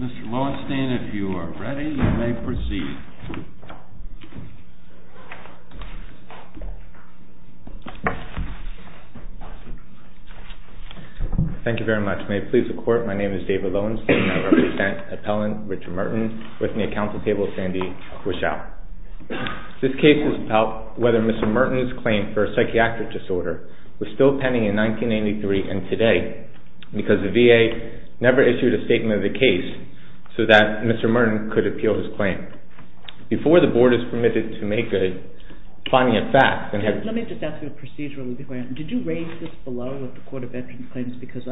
Mr. Lowenstein, if you are ready, you may proceed. Thank you very much. May it please the Court, my name is David Lowenstein and I represent Appellant Richard Merton with me at Council Table Sandy Wishout. This case is about whether Mr. Merton's claim for a psychiatric disorder was still pending in 1983 and today because the VA never issued a statement of the case so that Mr. Merton could appeal his claim. Before the Board is permitted to make a finding of facts... Let me just ask you a procedural question. Did you raise this below with the Court of Veterans Claims because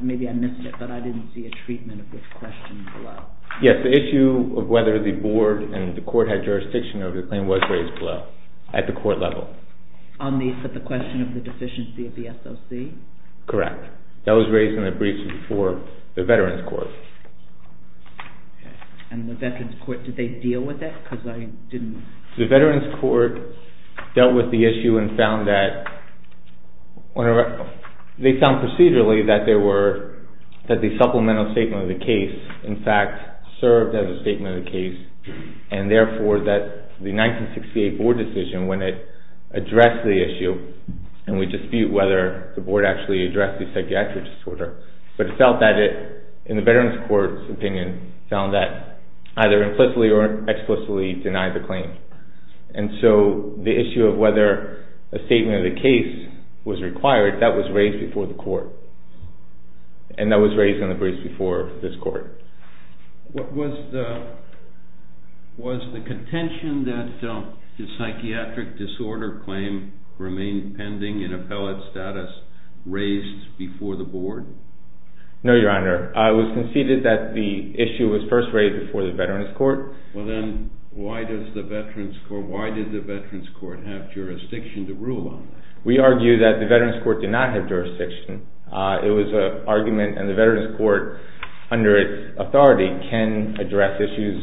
maybe I missed it but I didn't see a treatment of this question below. Yes, the issue of whether the Board and the Court had jurisdiction over the claim was raised below at the Court level. On the question of the deficiency of the SOC? Correct. That was raised in the briefs before the Veterans Court. And the Veterans Court, did they deal with it? The Veterans Court dealt with the issue and found that they found procedurally that the supplemental statement of the case in fact served as a statement of the case and therefore that the 1968 Board decision when it addressed the issue and we dispute whether the Board actually addressed the psychiatric disorder but it felt that it, in the Veterans Court's opinion, found that either implicitly or explicitly denied the claim. And so the issue of whether a statement of the case was required, that was raised before the Court and that was raised in the briefs before this Court. Was the contention that the psychiatric disorder claim remained pending in appellate status raised before the Board? No, Your Honor. It was conceded that the issue was first raised before the Veterans Court. Well then, why did the Veterans Court have jurisdiction to rule on this? We argue that the Veterans Court did not have jurisdiction. It was an argument and the Veterans Court, under its authority, can address issues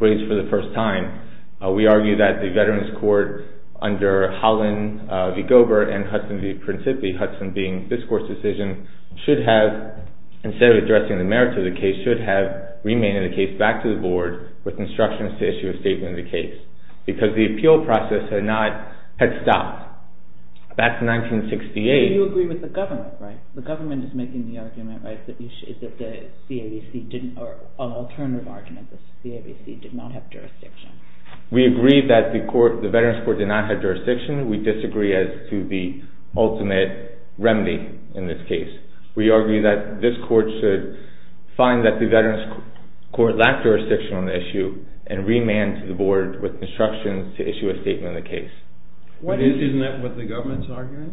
raised for the first time. We argue that the Veterans Court, under Holland v. Gober and Hudson v. Principi, Hudson being this Court's decision, should have, instead of addressing the merits of the case, should have remained in the case back to the Board with instructions to issue a statement of the case because the appeal process had stopped back in 1968. But you agree with the government, right? The government is making the argument, right, that the CAVC did not have jurisdiction. We agree that the Veterans Court did not have jurisdiction. We disagree as to the ultimate remedy in this case. We argue that this Court should find that the Veterans Court lacked jurisdiction on the issue and remand to the Board with instructions to issue a statement of the case. Isn't that what the government's arguing?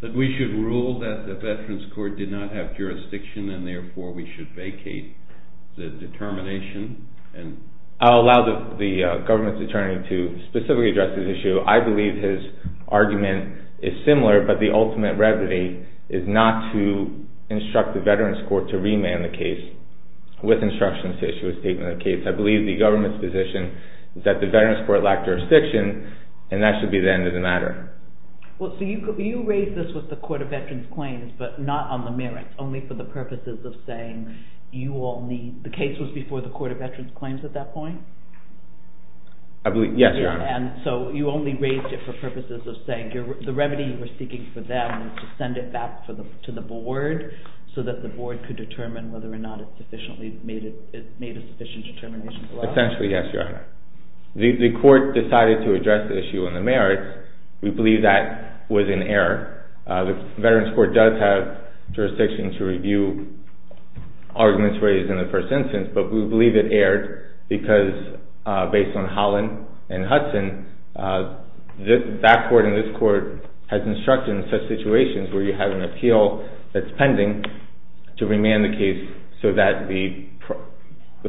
That we should rule that the Veterans Court did not have jurisdiction and therefore we should vacate the determination? I'll allow the government's attorney to specifically address this issue. I believe his argument is similar but the ultimate remedy is not to instruct the Veterans Court to remand the case with instructions to issue a statement of the case. I believe the government's position is that the Veterans Court lacked jurisdiction and that should be the end of the matter. So you raised this with the Court of Veterans Claims but not on the merits, only for the purposes of saying you all need, the case was before the Court of Veterans Claims at that point? Yes, Your Honor. And so you only raised it for purposes of saying the remedy you were seeking for them was to send it back to the Board so that the Board could determine whether or not it made a sufficient determination for us? Essentially, yes, Your Honor. The Court decided to address the issue on the merits. We believe that was an error. The Veterans Court does have jurisdiction to review arguments raised in the first instance but we believe it erred because based on Holland and Hudson, that Court and this Court has instructed in such situations where you have an appeal that's pending to remand the case so that the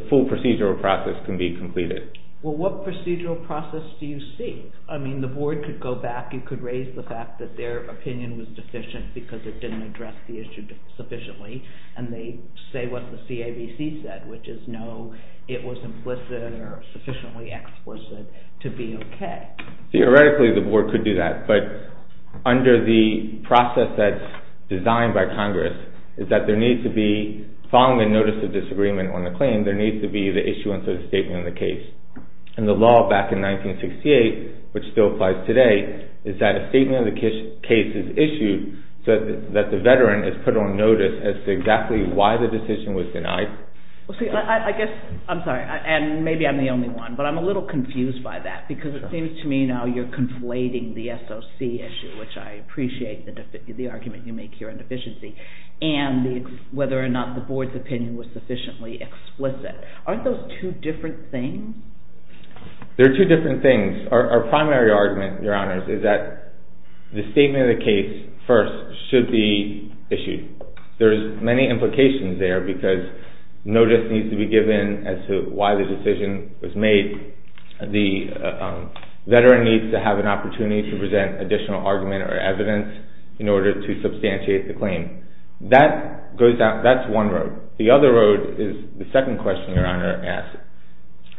full procedural process can be completed. Well, what procedural process do you seek? I mean, the Board could go back and could raise the fact that their opinion was deficient because it didn't address the issue sufficiently and they say what the CABC said, which is no, it was implicit or sufficiently explicit to be okay. Theoretically, the Board could do that but under the process that's designed by Congress is that there needs to be, following the notice of disagreement on the claim, there needs to be the issuance of the statement of the case. And the law back in 1968, which still applies today, is that a statement of the case is issued so that the Veteran is put on notice as to exactly why the decision was denied? I guess, I'm sorry, and maybe I'm the only one, but I'm a little confused by that because it seems to me now you're conflating the SOC issue, which I appreciate the argument you make here on deficiency, and whether or not the Board's opinion was sufficiently explicit. Aren't those two different things? They're two different things. Our primary argument, Your Honors, is that the statement of the case first should be issued. There's many implications there because notice needs to be given as to why the decision was made. The Veteran needs to have an opportunity to present additional argument or evidence in order to substantiate the claim. That's one road. The other road is the second question Your Honor asked,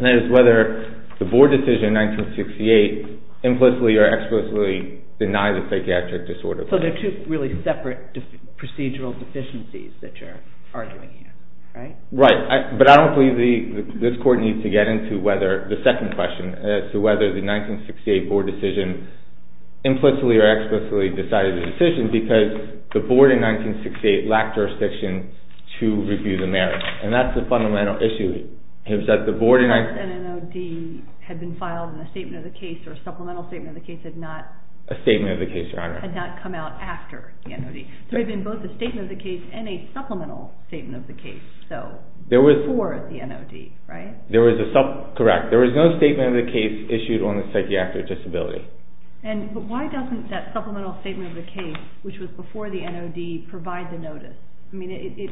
and that is whether the Board decision in 1968 implicitly or explicitly denied the psychiatric disorder. So they're two really separate procedural deficiencies that you're arguing here, right? Right, but I don't believe this Court needs to get into the second question as to whether the 1968 Board decision implicitly or explicitly decided the decision because the Board in 1968 lacked jurisdiction to review the merits. And that's the fundamental issue. The Board's NOD had been filed in a statement of the case or a supplemental statement of the case had not come out after the NOD. There had been both a statement of the case and a supplemental statement of the case before the NOD, right? Correct. There was no statement of the case issued on the psychiatric disability. But why doesn't that supplemental statement of the case, which was before the NOD, provide the notice? I mean, it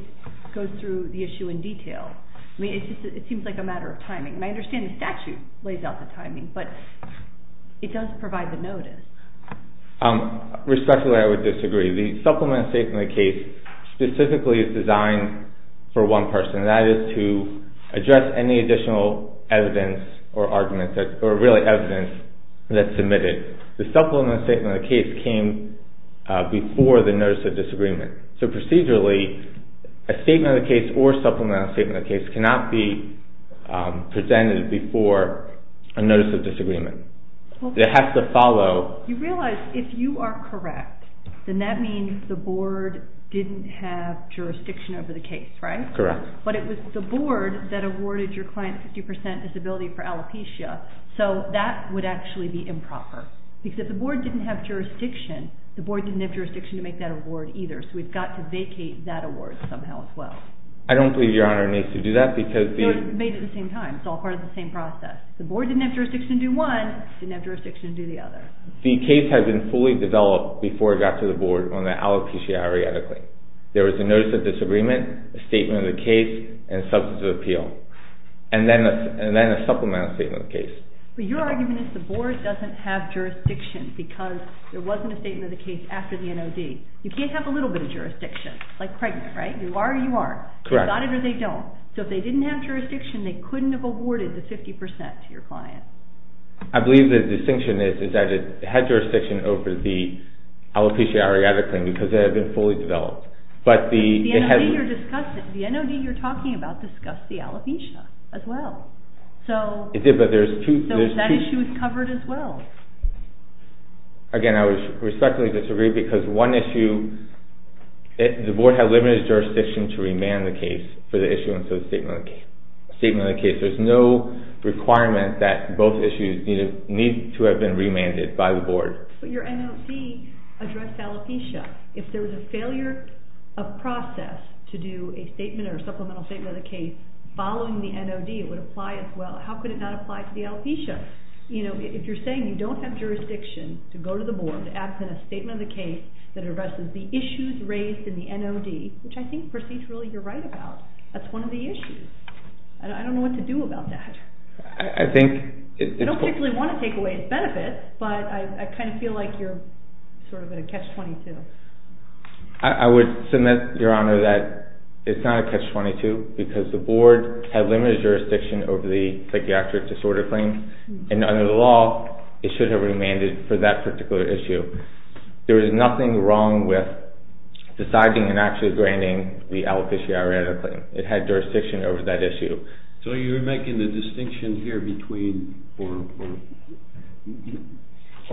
goes through the issue in detail. I mean, it seems like a matter of timing, and I understand the statute lays out the timing, but it does provide the notice. Respectfully, I would disagree. The supplemental statement of the case specifically is designed for one person, and that is to address any additional evidence or arguments or really evidence that's submitted. The supplemental statement of the case came before the notice of disagreement. So procedurally, a statement of the case or supplemental statement of the case cannot be presented before a notice of disagreement. It has to follow. You realize if you are correct, then that means the Board didn't have jurisdiction over the case, right? Correct. But it was the Board that awarded your client a 50% disability for alopecia, so that would actually be improper. Because if the Board didn't have jurisdiction, the Board didn't have jurisdiction to make that award either, so we've got to vacate that award somehow as well. I don't believe Your Honor needs to do that because the— No, it's made at the same time. It's all part of the same process. If the Board didn't have jurisdiction to do one, it didn't have jurisdiction to do the other. The case had been fully developed before it got to the Board on the alopecia areata claim. There was a notice of disagreement, a statement of the case, and substantive appeal, and then a supplemental statement of the case. But your argument is the Board doesn't have jurisdiction because there wasn't a statement of the case after the NOD. You can't have a little bit of jurisdiction, like pregnant, right? You are or you aren't. Correct. They got it or they don't. So if they didn't have jurisdiction, they couldn't have awarded the 50% to your client. I believe the distinction is that it had jurisdiction over the alopecia areata claim because it had been fully developed. But the— The NOD you're discussing—the NOD you're talking about discussed the alopecia as well. It did, but there's two— So that issue is covered as well. Again, I respectfully disagree because one issue, the Board had limited jurisdiction to remand the case for the issue instead of statement of the case. There's no requirement that both issues need to have been remanded by the Board. But your NOD addressed alopecia. If there was a failure of process to do a statement or supplemental statement of the case following the NOD, it would apply as well. How could it not apply to the alopecia? You know, if you're saying you don't have jurisdiction to go to the Board to act on a statement of the case that addresses the issues raised in the NOD, which I think procedurally you're right about, that's one of the issues. I don't know what to do about that. I think— I don't particularly want to take away its benefits, but I kind of feel like you're sort of in a catch-22. I would submit, Your Honor, that it's not a catch-22 because the Board had limited jurisdiction over the psychiatric disorder claim. And under the law, it should have remanded for that particular issue. There is nothing wrong with deciding and actually granting the alopecia areata claim. It had jurisdiction over that issue. So you're making the distinction here between—or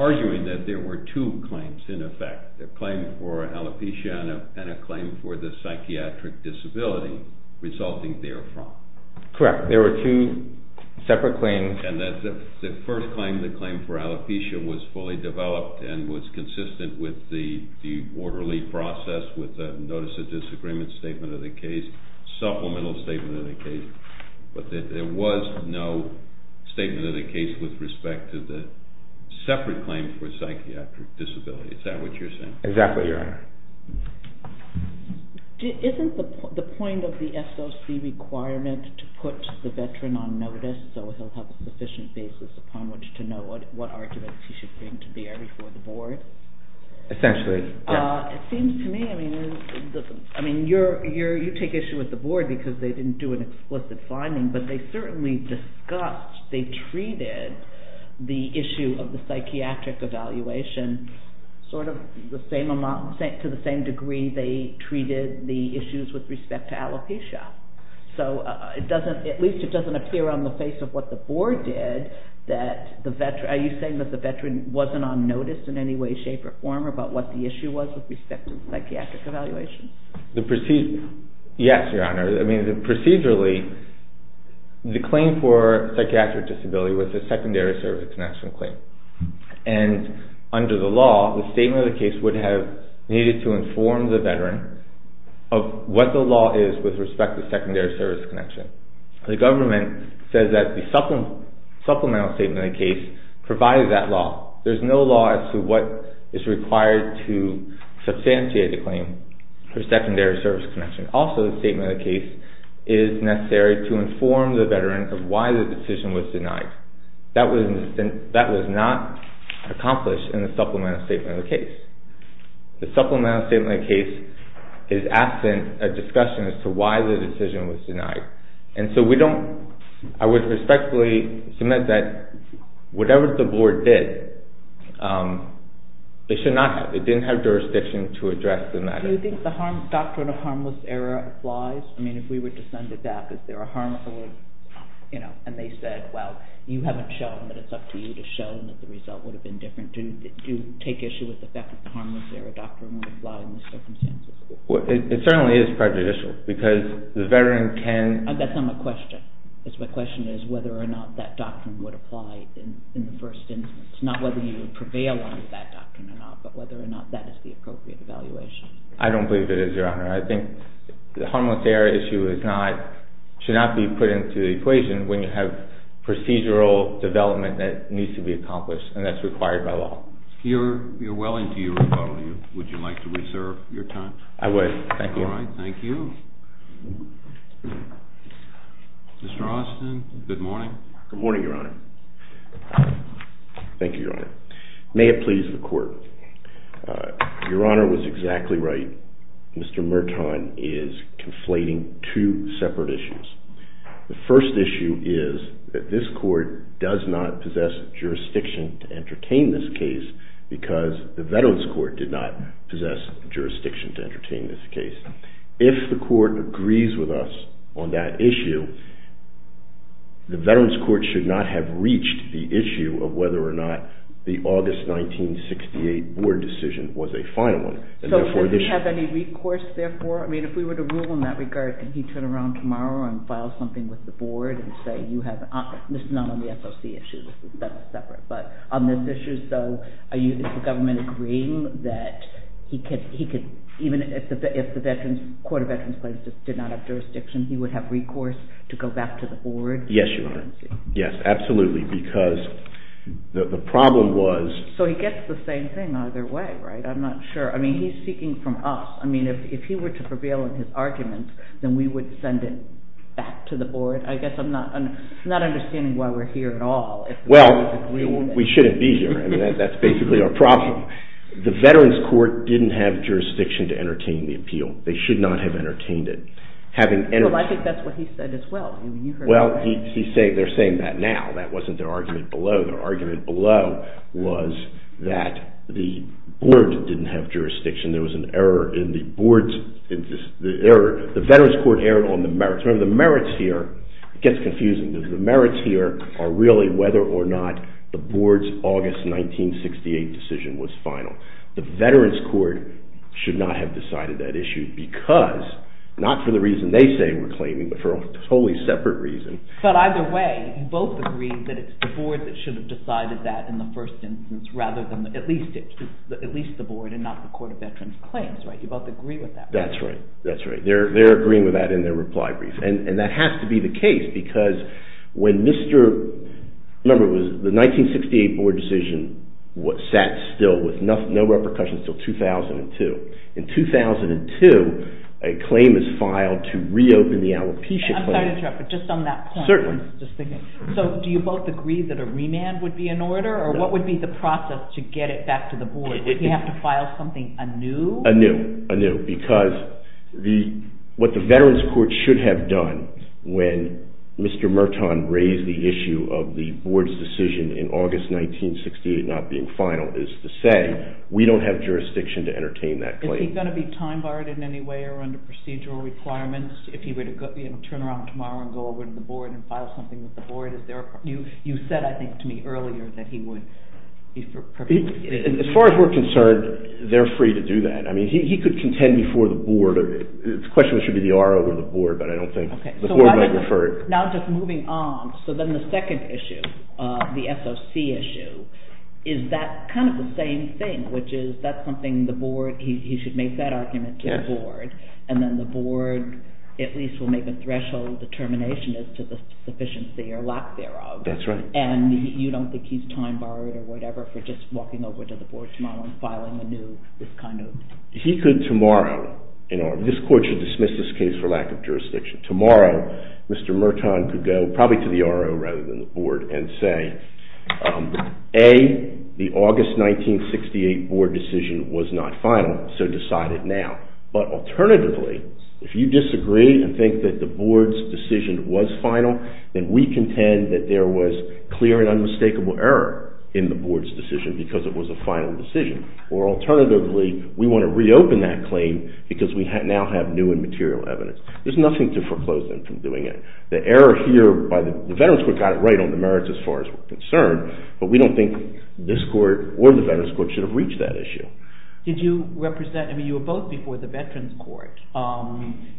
arguing that there were two claims in effect, a claim for alopecia and a claim for the psychiatric disability resulting therefrom. Correct. There were two separate claims. And the first claim, the claim for alopecia, was fully developed and was consistent with the orderly process with the notice of disagreement statement of the case, supplemental statement of the case. But there was no statement of the case with respect to the separate claim for psychiatric disability. Exactly, Your Honor. Isn't the point of the SOC requirement to put the veteran on notice so he'll have sufficient basis upon which to know what arguments he should bring to bear before the Board? Essentially. It seems to me—I mean, you take issue with the Board because they didn't do an explicit finding, but they certainly discussed, they treated the issue of the psychiatric evaluation sort of the same amount—to the same degree they treated the issues with respect to alopecia. So it doesn't—at least it doesn't appear on the face of what the Board did that the veteran— are you saying that the veteran wasn't on notice in any way, shape, or form about what the issue was with respect to the psychiatric evaluation? Yes, Your Honor. I mean, procedurally, the claim for psychiatric disability was a secondary service connection claim. And under the law, the statement of the case would have needed to inform the veteran of what the law is with respect to secondary service connection. The government says that the supplemental statement of the case provided that law. There's no law as to what is required to substantiate the claim for secondary service connection. Also, the statement of the case is necessary to inform the veteran of why the decision was denied. That was not accomplished in the supplemental statement of the case. The supplemental statement of the case is absent a discussion as to why the decision was denied. And so we don't—I would respectfully submit that whatever the Board did, it should not have—it didn't have jurisdiction to address the matter. Do you think the doctrine of harmless error applies? I mean, if we were to send a dap, is there a harmful—you know, and they said, well, you haven't shown that it's up to you to show that the result would have been different. Do you take issue with the fact that the harmless error doctrine would apply in this circumstance? It certainly is prejudicial because the veteran can— That's not my question. My question is whether or not that doctrine would apply in the first instance. Not whether you would prevail on that doctrine or not, but whether or not that is the appropriate evaluation. I don't believe it is, Your Honor. I think the harmless error issue is not—should not be put into the equation when you have procedural development that needs to be accomplished and that's required by law. You're well into your rebuttal. Would you like to reserve your time? I would. Thank you. All right. Thank you. Mr. Austin, good morning. Good morning, Your Honor. Thank you, Your Honor. May it please the Court. Your Honor was exactly right. Mr. Merton is conflating two separate issues. The first issue is that this Court does not possess jurisdiction to entertain this case because the Veterans Court did not possess jurisdiction to entertain this case. If the Court agrees with us on that issue, the Veterans Court should not have reached the issue of whether or not the August 1968 Board decision was a final one. So does he have any recourse, therefore? I mean, if we were to rule in that regard, can he turn around tomorrow and file something with the Board and say, you have—this is not on the SOC issue. That's separate. But on this issue, so are you—is the government agreeing that he could— even if the Veterans—Court of Veterans Plaintiffs did not have jurisdiction, he would have recourse to go back to the Board? Yes, Your Honor. Yes, absolutely, because the problem was— So he gets the same thing either way, right? I'm not sure. I mean, he's speaking from us. I mean, if he were to prevail in his argument, then we would send it back to the Board. I guess I'm not understanding why we're here at all. Well, we shouldn't be here. I mean, that's basically our problem. The Veterans Court didn't have jurisdiction to entertain the appeal. They should not have entertained it. Well, I think that's what he said as well. Well, they're saying that now. That wasn't their argument below. Their argument below was that the Board didn't have jurisdiction. There was an error in the Board's—the Veterans Court erred on the merits. Remember, the merits here—it gets confusing. The merits here are really whether or not the Board's August 1968 decision was final. The Veterans Court should not have decided that issue because— not for the reason they say we're claiming, but for a totally separate reason. But either way, you both agree that it's the Board that should have decided that in the first instance rather than at least the Board and not the Court of Veterans Claims, right? You both agree with that, right? That's right. That's right. They're agreeing with that in their reply brief. And that has to be the case because when Mr.— remember, it was the 1968 Board decision sat still with no repercussions until 2002. In 2002, a claim is filed to reopen the Alopecia claim. I'm sorry to interrupt, but just on that point. Certainly. So do you both agree that a remand would be in order? Or what would be the process to get it back to the Board? Would he have to file something anew? Anew. Anew. Because what the Veterans Court should have done when Mr. Merton raised the issue of the Board's decision in August 1968 not being final is to say we don't have jurisdiction to entertain that claim. Is he going to be time-barred in any way or under procedural requirements if he were to turn around tomorrow and go over to the Board and file something with the Board? You said, I think, to me earlier that he would be— As far as we're concerned, they're free to do that. I mean, he could contend before the Board. The question was should it be the RO or the Board, but I don't think the Board might refer it. Now just moving on. So then the second issue, the SOC issue, is that kind of the same thing, which is that's something the Board—he should make that argument to the Board, and then the Board at least will make a threshold determination as to the sufficiency or lack thereof. That's right. And you don't think he's time-barred or whatever for just walking over to the Board tomorrow and filing anew this kind of— He could tomorrow—this Court should dismiss this case for lack of jurisdiction. Tomorrow, Mr. Merton could go probably to the RO rather than the Board and say, A, the August 1968 Board decision was not final, so decide it now. But alternatively, if you disagree and think that the Board's decision was final, then we contend that there was clear and unmistakable error in the Board's decision because it was a final decision. Or alternatively, we want to reopen that claim because we now have new and material evidence. There's nothing to foreclose them from doing it. The error here by the Veterans Court got it right on the merits as far as we're concerned, but we don't think this Court or the Veterans Court should have reached that issue. Did you represent—I mean, you were both before the Veterans Court.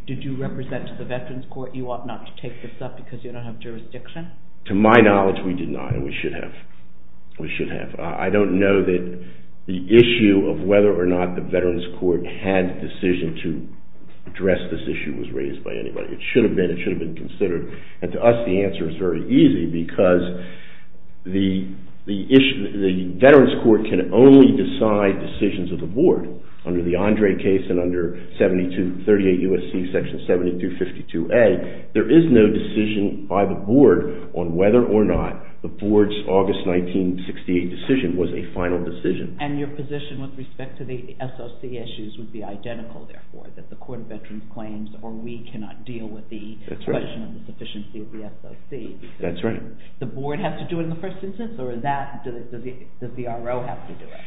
Did you represent to the Veterans Court you ought not to take this up because you don't have jurisdiction? To my knowledge, we did not, and we should have. I don't know that the issue of whether or not the Veterans Court had the decision to address this issue was raised by anybody. It should have been. It should have been considered. And to us, the answer is very easy because the Veterans Court can only decide decisions of the Board under the Andre case and under 38 U.S.C. Section 7252A. There is no decision by the Board on whether or not the Board's August 1968 decision was a final decision. And your position with respect to the SOC issues would be identical, therefore, that the Court of Veterans Claims or we cannot deal with the question of the sufficiency of the SOC. That's right. The Board has to do it in the first instance, or does the RO have to do it?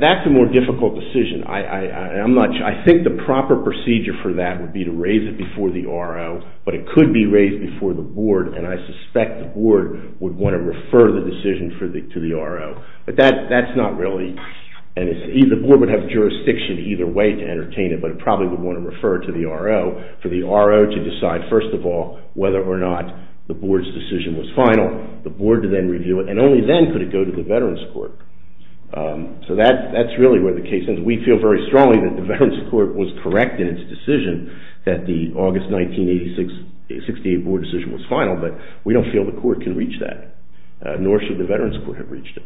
That's a more difficult decision. I think the proper procedure for that would be to raise it before the RO, but it could be raised before the Board, and I suspect the Board would want to refer the decision to the RO. But that's not really, and the Board would have jurisdiction either way to entertain it, but it probably would want to refer it to the RO for the RO to decide, first of all, whether or not the Board's decision was final, the Board to then review it, and only then could it go to the Veterans Court. So that's really where the case ends. We feel very strongly that the Veterans Court was correct in its decision that the August 1968 Board decision was final, but we don't feel the Court can reach that, nor should the Veterans Court have reached it.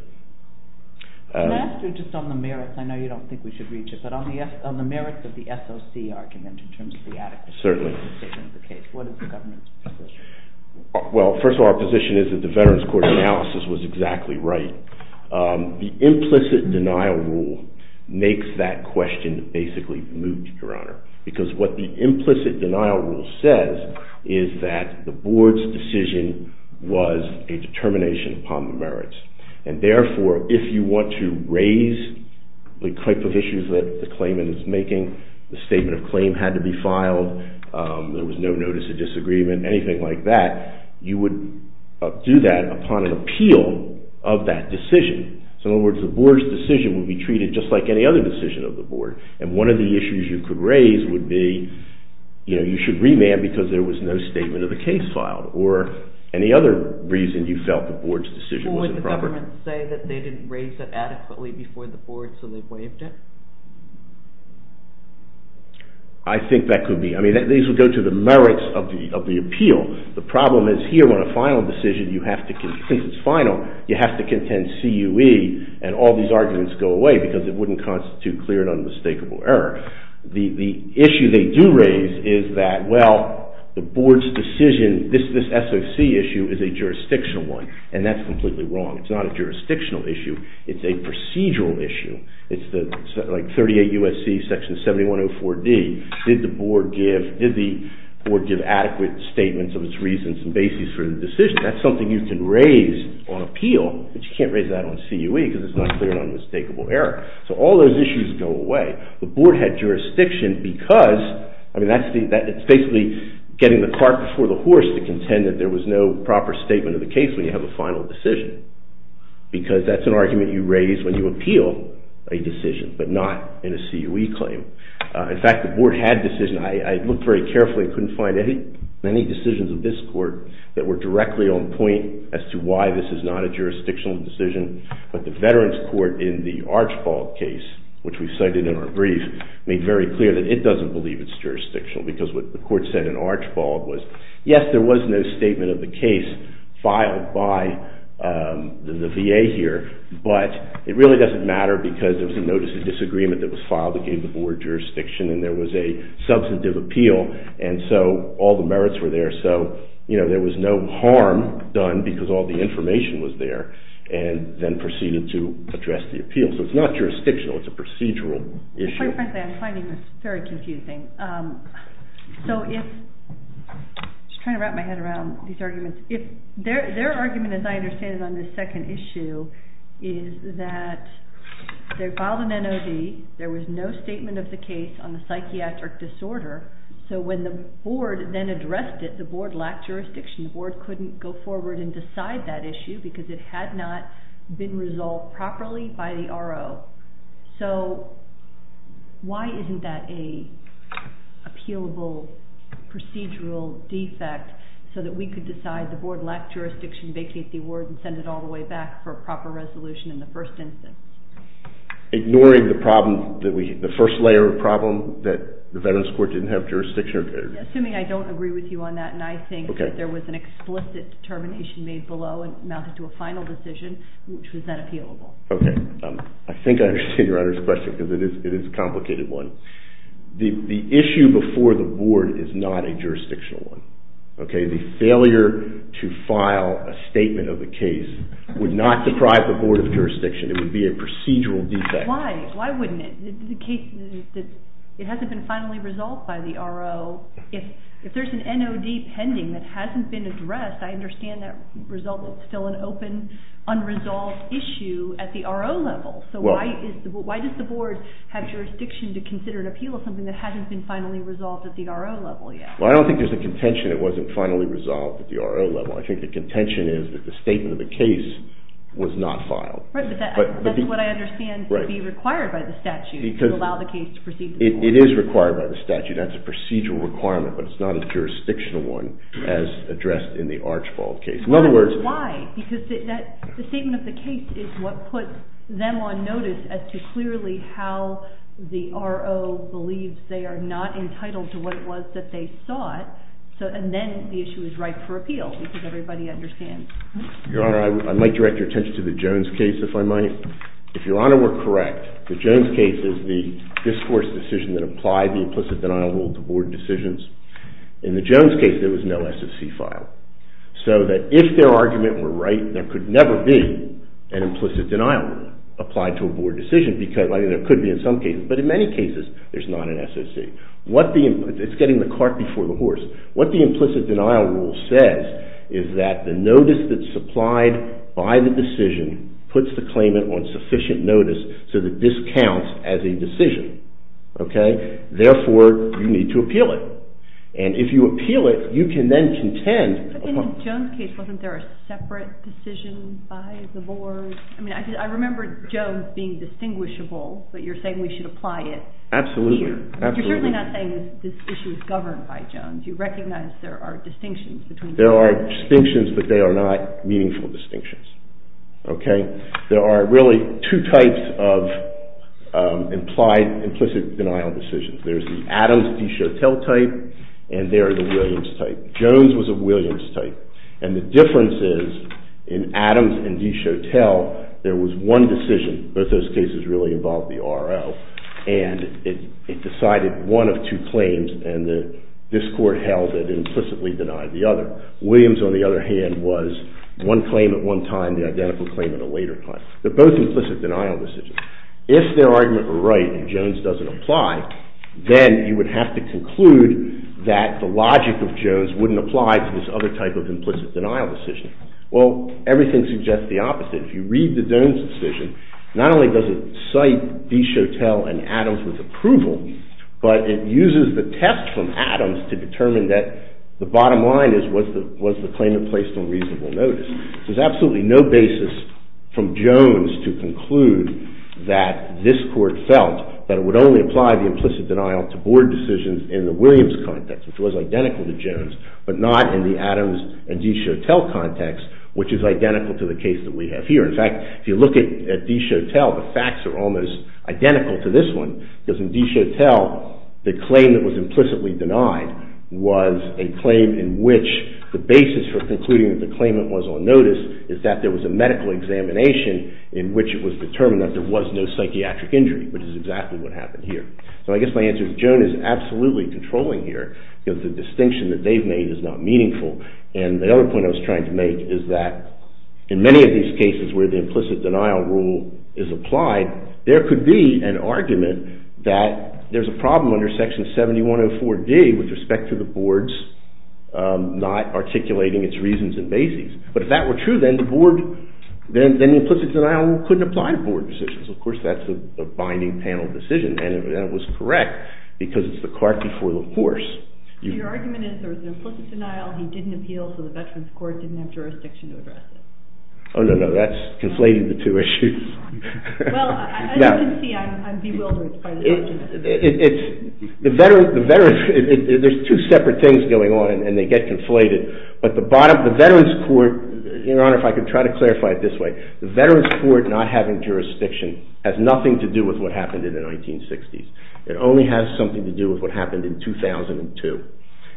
Can I ask you just on the merits? I know you don't think we should reach it, but on the merits of the SOC argument in terms of the adequacy of the case, what is the government's position? Well, first of all, our position is that the Veterans Court analysis was exactly right. The implicit denial rule makes that question basically moot, Your Honor, because what the implicit denial rule says is that the Board's decision was a determination upon the merits, and therefore, if you want to raise the type of issues that the claimant is making, the statement of claim had to be filed, there was no notice of disagreement, anything like that, you would do that upon an appeal of that decision. So in other words, the Board's decision would be treated just like any other decision of the Board, and one of the issues you could raise would be you should remand because there was no statement of the case filed, or any other reason you felt the Board's decision was improper. Would the government say that they didn't raise it adequately before the Board, so they waived it? I think that could be. I mean, these would go to the merits of the appeal. The problem is here on a final decision, you have to, since it's final, you have to contend CUE, and all these arguments go away because it wouldn't constitute clear and unmistakable error. The issue they do raise is that, well, the Board's decision, this SOC issue is a jurisdictional one, and that's completely wrong. It's not a jurisdictional issue, it's a procedural issue. It's like 38 U.S.C. Section 7104D, did the Board give adequate statements of its reasons and basis for the decision? That's something you can raise on appeal, but you can't raise that on CUE because it's not clear and unmistakable error. So all those issues go away. The Board had jurisdiction because, I mean, that's basically getting the cart before the horse to contend that there was no proper statement of the case when you have a final decision, because that's an argument you raise when you appeal a decision, but not in a CUE claim. In fact, the Board had a decision. I looked very carefully and couldn't find any decisions of this Court that were directly on point as to why this is not a jurisdictional decision, but the Veterans Court in the Archbald case, which we cited in our brief, made very clear that it doesn't believe it's jurisdictional because what the Court said in Archbald was, yes, there was no statement of the case filed by the VA here, but it really doesn't matter because there was a notice of disagreement that was filed that gave the Board jurisdiction and there was a substantive appeal, and so all the merits were there, so there was no harm done because all the information was there, and then proceeded to address the appeal. So it's not jurisdictional. It's a procedural issue. Very frankly, I'm finding this very confusing. I'm just trying to wrap my head around these arguments. Their argument, as I understand it, on this second issue is that they filed an NOD, there was no statement of the case on the psychiatric disorder, so when the Board then addressed it, the Board lacked jurisdiction. The Board couldn't go forward and decide that issue because it had not been resolved properly by the RO. So why isn't that an appealable procedural defect so that we could decide the Board lacked jurisdiction, vacate the award, and send it all the way back for a proper resolution in the first instance? Ignoring the first layer of problem, that the Veterans Court didn't have jurisdiction? Assuming I don't agree with you on that, and I think that there was an explicit determination made below and amounted to a final decision, which was then appealable. I think I understand your question because it is a complicated one. The issue before the Board is not a jurisdictional one. The failure to file a statement of the case would not deprive the Board of jurisdiction. It would be a procedural defect. Why wouldn't it? It hasn't been finally resolved by the RO. If there's an NOD pending that hasn't been addressed, I understand that result is still an open, unresolved issue at the RO level. Why does the Board have jurisdiction to consider an appeal of something that hasn't been finally resolved at the RO level yet? I don't think there's a contention it wasn't finally resolved at the RO level. I think the contention is that the statement of the case was not filed. That's what I understand to be required by the statute to allow the case to proceed to the RO level. It is required by the statute. That's a procedural requirement, but it's not a jurisdictional one as addressed in the Archibald case. Why? Because the statement of the case is what puts them on notice as to clearly how the RO believes they are not entitled to what it was that they sought, and then the issue is ripe for appeal because everybody understands. Your Honor, I might direct your attention to the Jones case, if I might. If Your Honor were correct, the Jones case is the discourse decision that applied the implicit denial rule to Board decisions. In the Jones case, there was no SSC file, so that if their argument were right, there could never be an implicit denial rule applied to a Board decision. There could be in some cases, but in many cases, there's not an SSC. It's getting the cart before the horse. What the implicit denial rule says is that the notice that's supplied by the decision puts the claimant on sufficient notice so that this counts as a decision. Therefore, you need to appeal it, and if you appeal it, you can then contend. In the Jones case, wasn't there a separate decision by the Board? I mean, I remember Jones being distinguishable, but you're saying we should apply it here. Absolutely. You're certainly not saying this issue is governed by Jones. You recognize there are distinctions between the two. There are distinctions, but they are not meaningful distinctions. Okay? There are really two types of implied implicit denial decisions. There's the Adams v. Chautel type, and there are the Williams type. Jones was a Williams type, and the difference is in Adams and v. Chautel, there was one decision, but those cases really involved the R.O., and it decided one of two claims, and this Court held it implicitly denied the other. Williams, on the other hand, was one claim at one time, the identical claim at a later time. They're both implicit denial decisions. If their argument were right and Jones doesn't apply, then you would have to conclude that the logic of Jones wouldn't apply to this other type of implicit denial decision. Well, everything suggests the opposite. If you read the Jones decision, not only does it cite v. Chautel and Adams with approval, but it uses the test from Adams to determine that the bottom line is was the claimant placed on reasonable notice. There's absolutely no basis from Jones to conclude that this Court felt that it would only apply the implicit denial to Board decisions in the Williams context, which was identical to Jones, but not in the Adams and v. Chautel context, which is identical to the case that we have here. In fact, if you look at v. Chautel, the facts are almost identical to this one, because in v. Chautel, the claim that was implicitly denied was a claim in which the basis for concluding that the claimant was on notice is that there was a medical examination in which it was determined that there was no psychiatric injury, which is exactly what happened here. So I guess my answer is Jones is absolutely controlling here, because the distinction that they've made is not meaningful, and the other point I was trying to make is that in many of these cases where the implicit denial rule is applied, there could be an argument that there's a problem under section 7104d with respect to the Boards not articulating its reasons and basis. But if that were true, then the implicit denial rule couldn't apply to Board decisions. Of course, that's a binding panel decision, and it was correct, because it's the cart before the horse. Your argument is there was an implicit denial, he didn't appeal, so the Veterans Court didn't have jurisdiction to address it. Oh, no, no, that's conflating the two issues. Well, as you can see, I'm bewildered by this argument. There's two separate things going on, and they get conflated, but the Veterans Court, Your Honor, if I could try to clarify it this way, the Veterans Court not having jurisdiction has nothing to do with what happened in the 1960s. It only has something to do with what happened in 2002.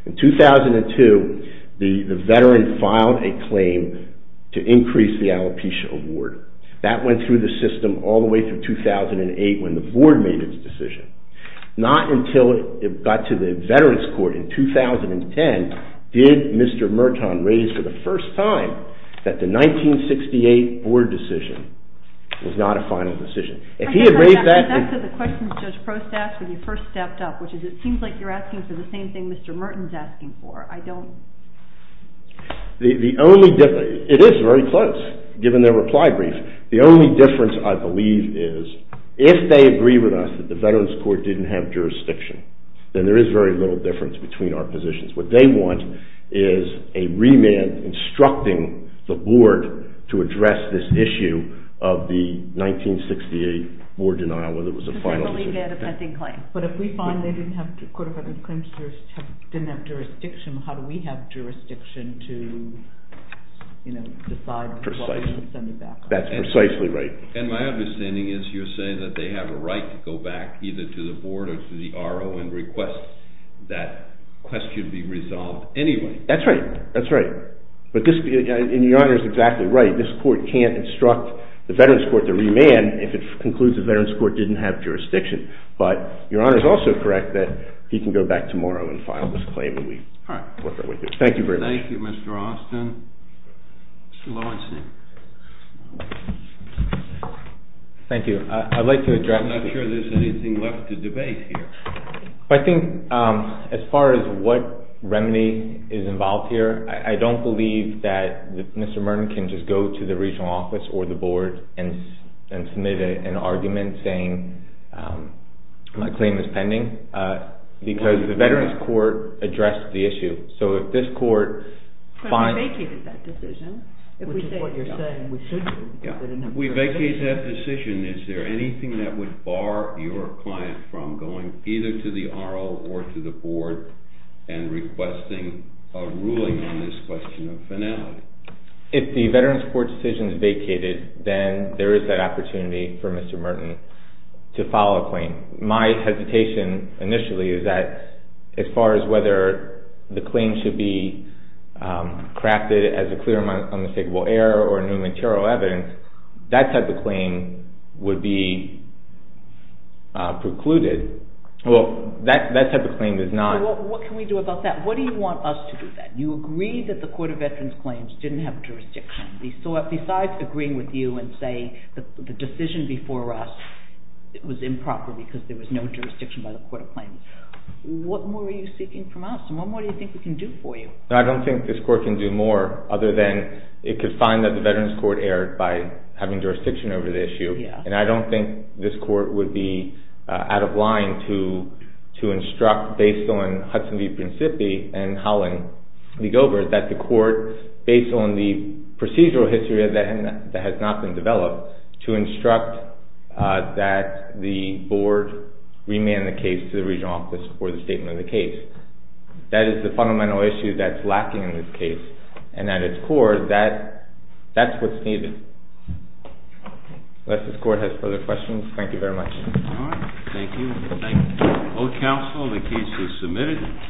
In 2002, the Veteran filed a claim to increase the alopecia award. That went through the system all the way through 2008 when the Board made its decision. Not until it got to the Veterans Court in 2010 did Mr. Merton raise for the first time that the 1968 Board decision was not a final decision. That's the question Judge Prost asked when you first stepped up, which is it seems like you're asking for the same thing Mr. Merton's asking for. It is very close, given their reply brief. The only difference, I believe, is if they agree with us that the Veterans Court didn't have jurisdiction, then there is very little difference between our positions. What they want is a remand instructing the Board to address this issue of the 1968 Board denial whether it was a final decision. But if we find they didn't have jurisdiction, how do we have jurisdiction to decide what we should send it back on? That's precisely right. And my understanding is you're saying that they have a right to go back either to the Board or to the RO and request that question be resolved anyway. That's right. That's right. And Your Honor is exactly right. This Court can't instruct the Veterans Court to remand if it concludes the Veterans Court didn't have jurisdiction. But Your Honor is also correct that he can go back tomorrow and file this claim when we work our way through. Thank you Mr. Austin. Mr. Lawson. Thank you. I'd like to address... I'm not sure there's anything left to debate here. I think as far as what remedy is involved here, I don't believe that Mr. Merton can just go to the Regional Office or the Board and submit an argument saying my claim is pending. Because the Veterans Court addressed the issue. So if this Court finds... But we vacated that decision. Which is what you're saying we should do. We vacated that decision. Is there anything that would bar your client from going either to the RO or to the Board and requesting a ruling on this question of finality? If the Veterans Court decision is vacated, then there is that opportunity for Mr. Merton to file a claim. My hesitation initially is that as far as whether the claim should be crafted as a clear and unmistakable error or new material evidence, that type of claim would be precluded. Well, that type of claim is not... What can we do about that? What do you want us to do about that? You agreed that the Court of Veterans Claims didn't have jurisdiction. Besides agreeing with you and saying the decision before us was improper because there was no jurisdiction by the Court of Claims, what more are you seeking from us? And what more do you think we can do for you? I don't think this Court can do more other than it could find that the Veterans Court erred by having jurisdiction over the issue. And I don't think this Court would be out of line to instruct, based on Hudson v. Principi and Howland v. Gobert, that the Court, based on the procedural history that has not been developed, to instruct that the Board remand the case to the regional office for the statement of the case. That is the fundamental issue that's lacking in this case. And at its core, that's what's needed. Unless this Court has further questions. Thank you very much. All right. Thank you. Thank you. All council, the case is submitted.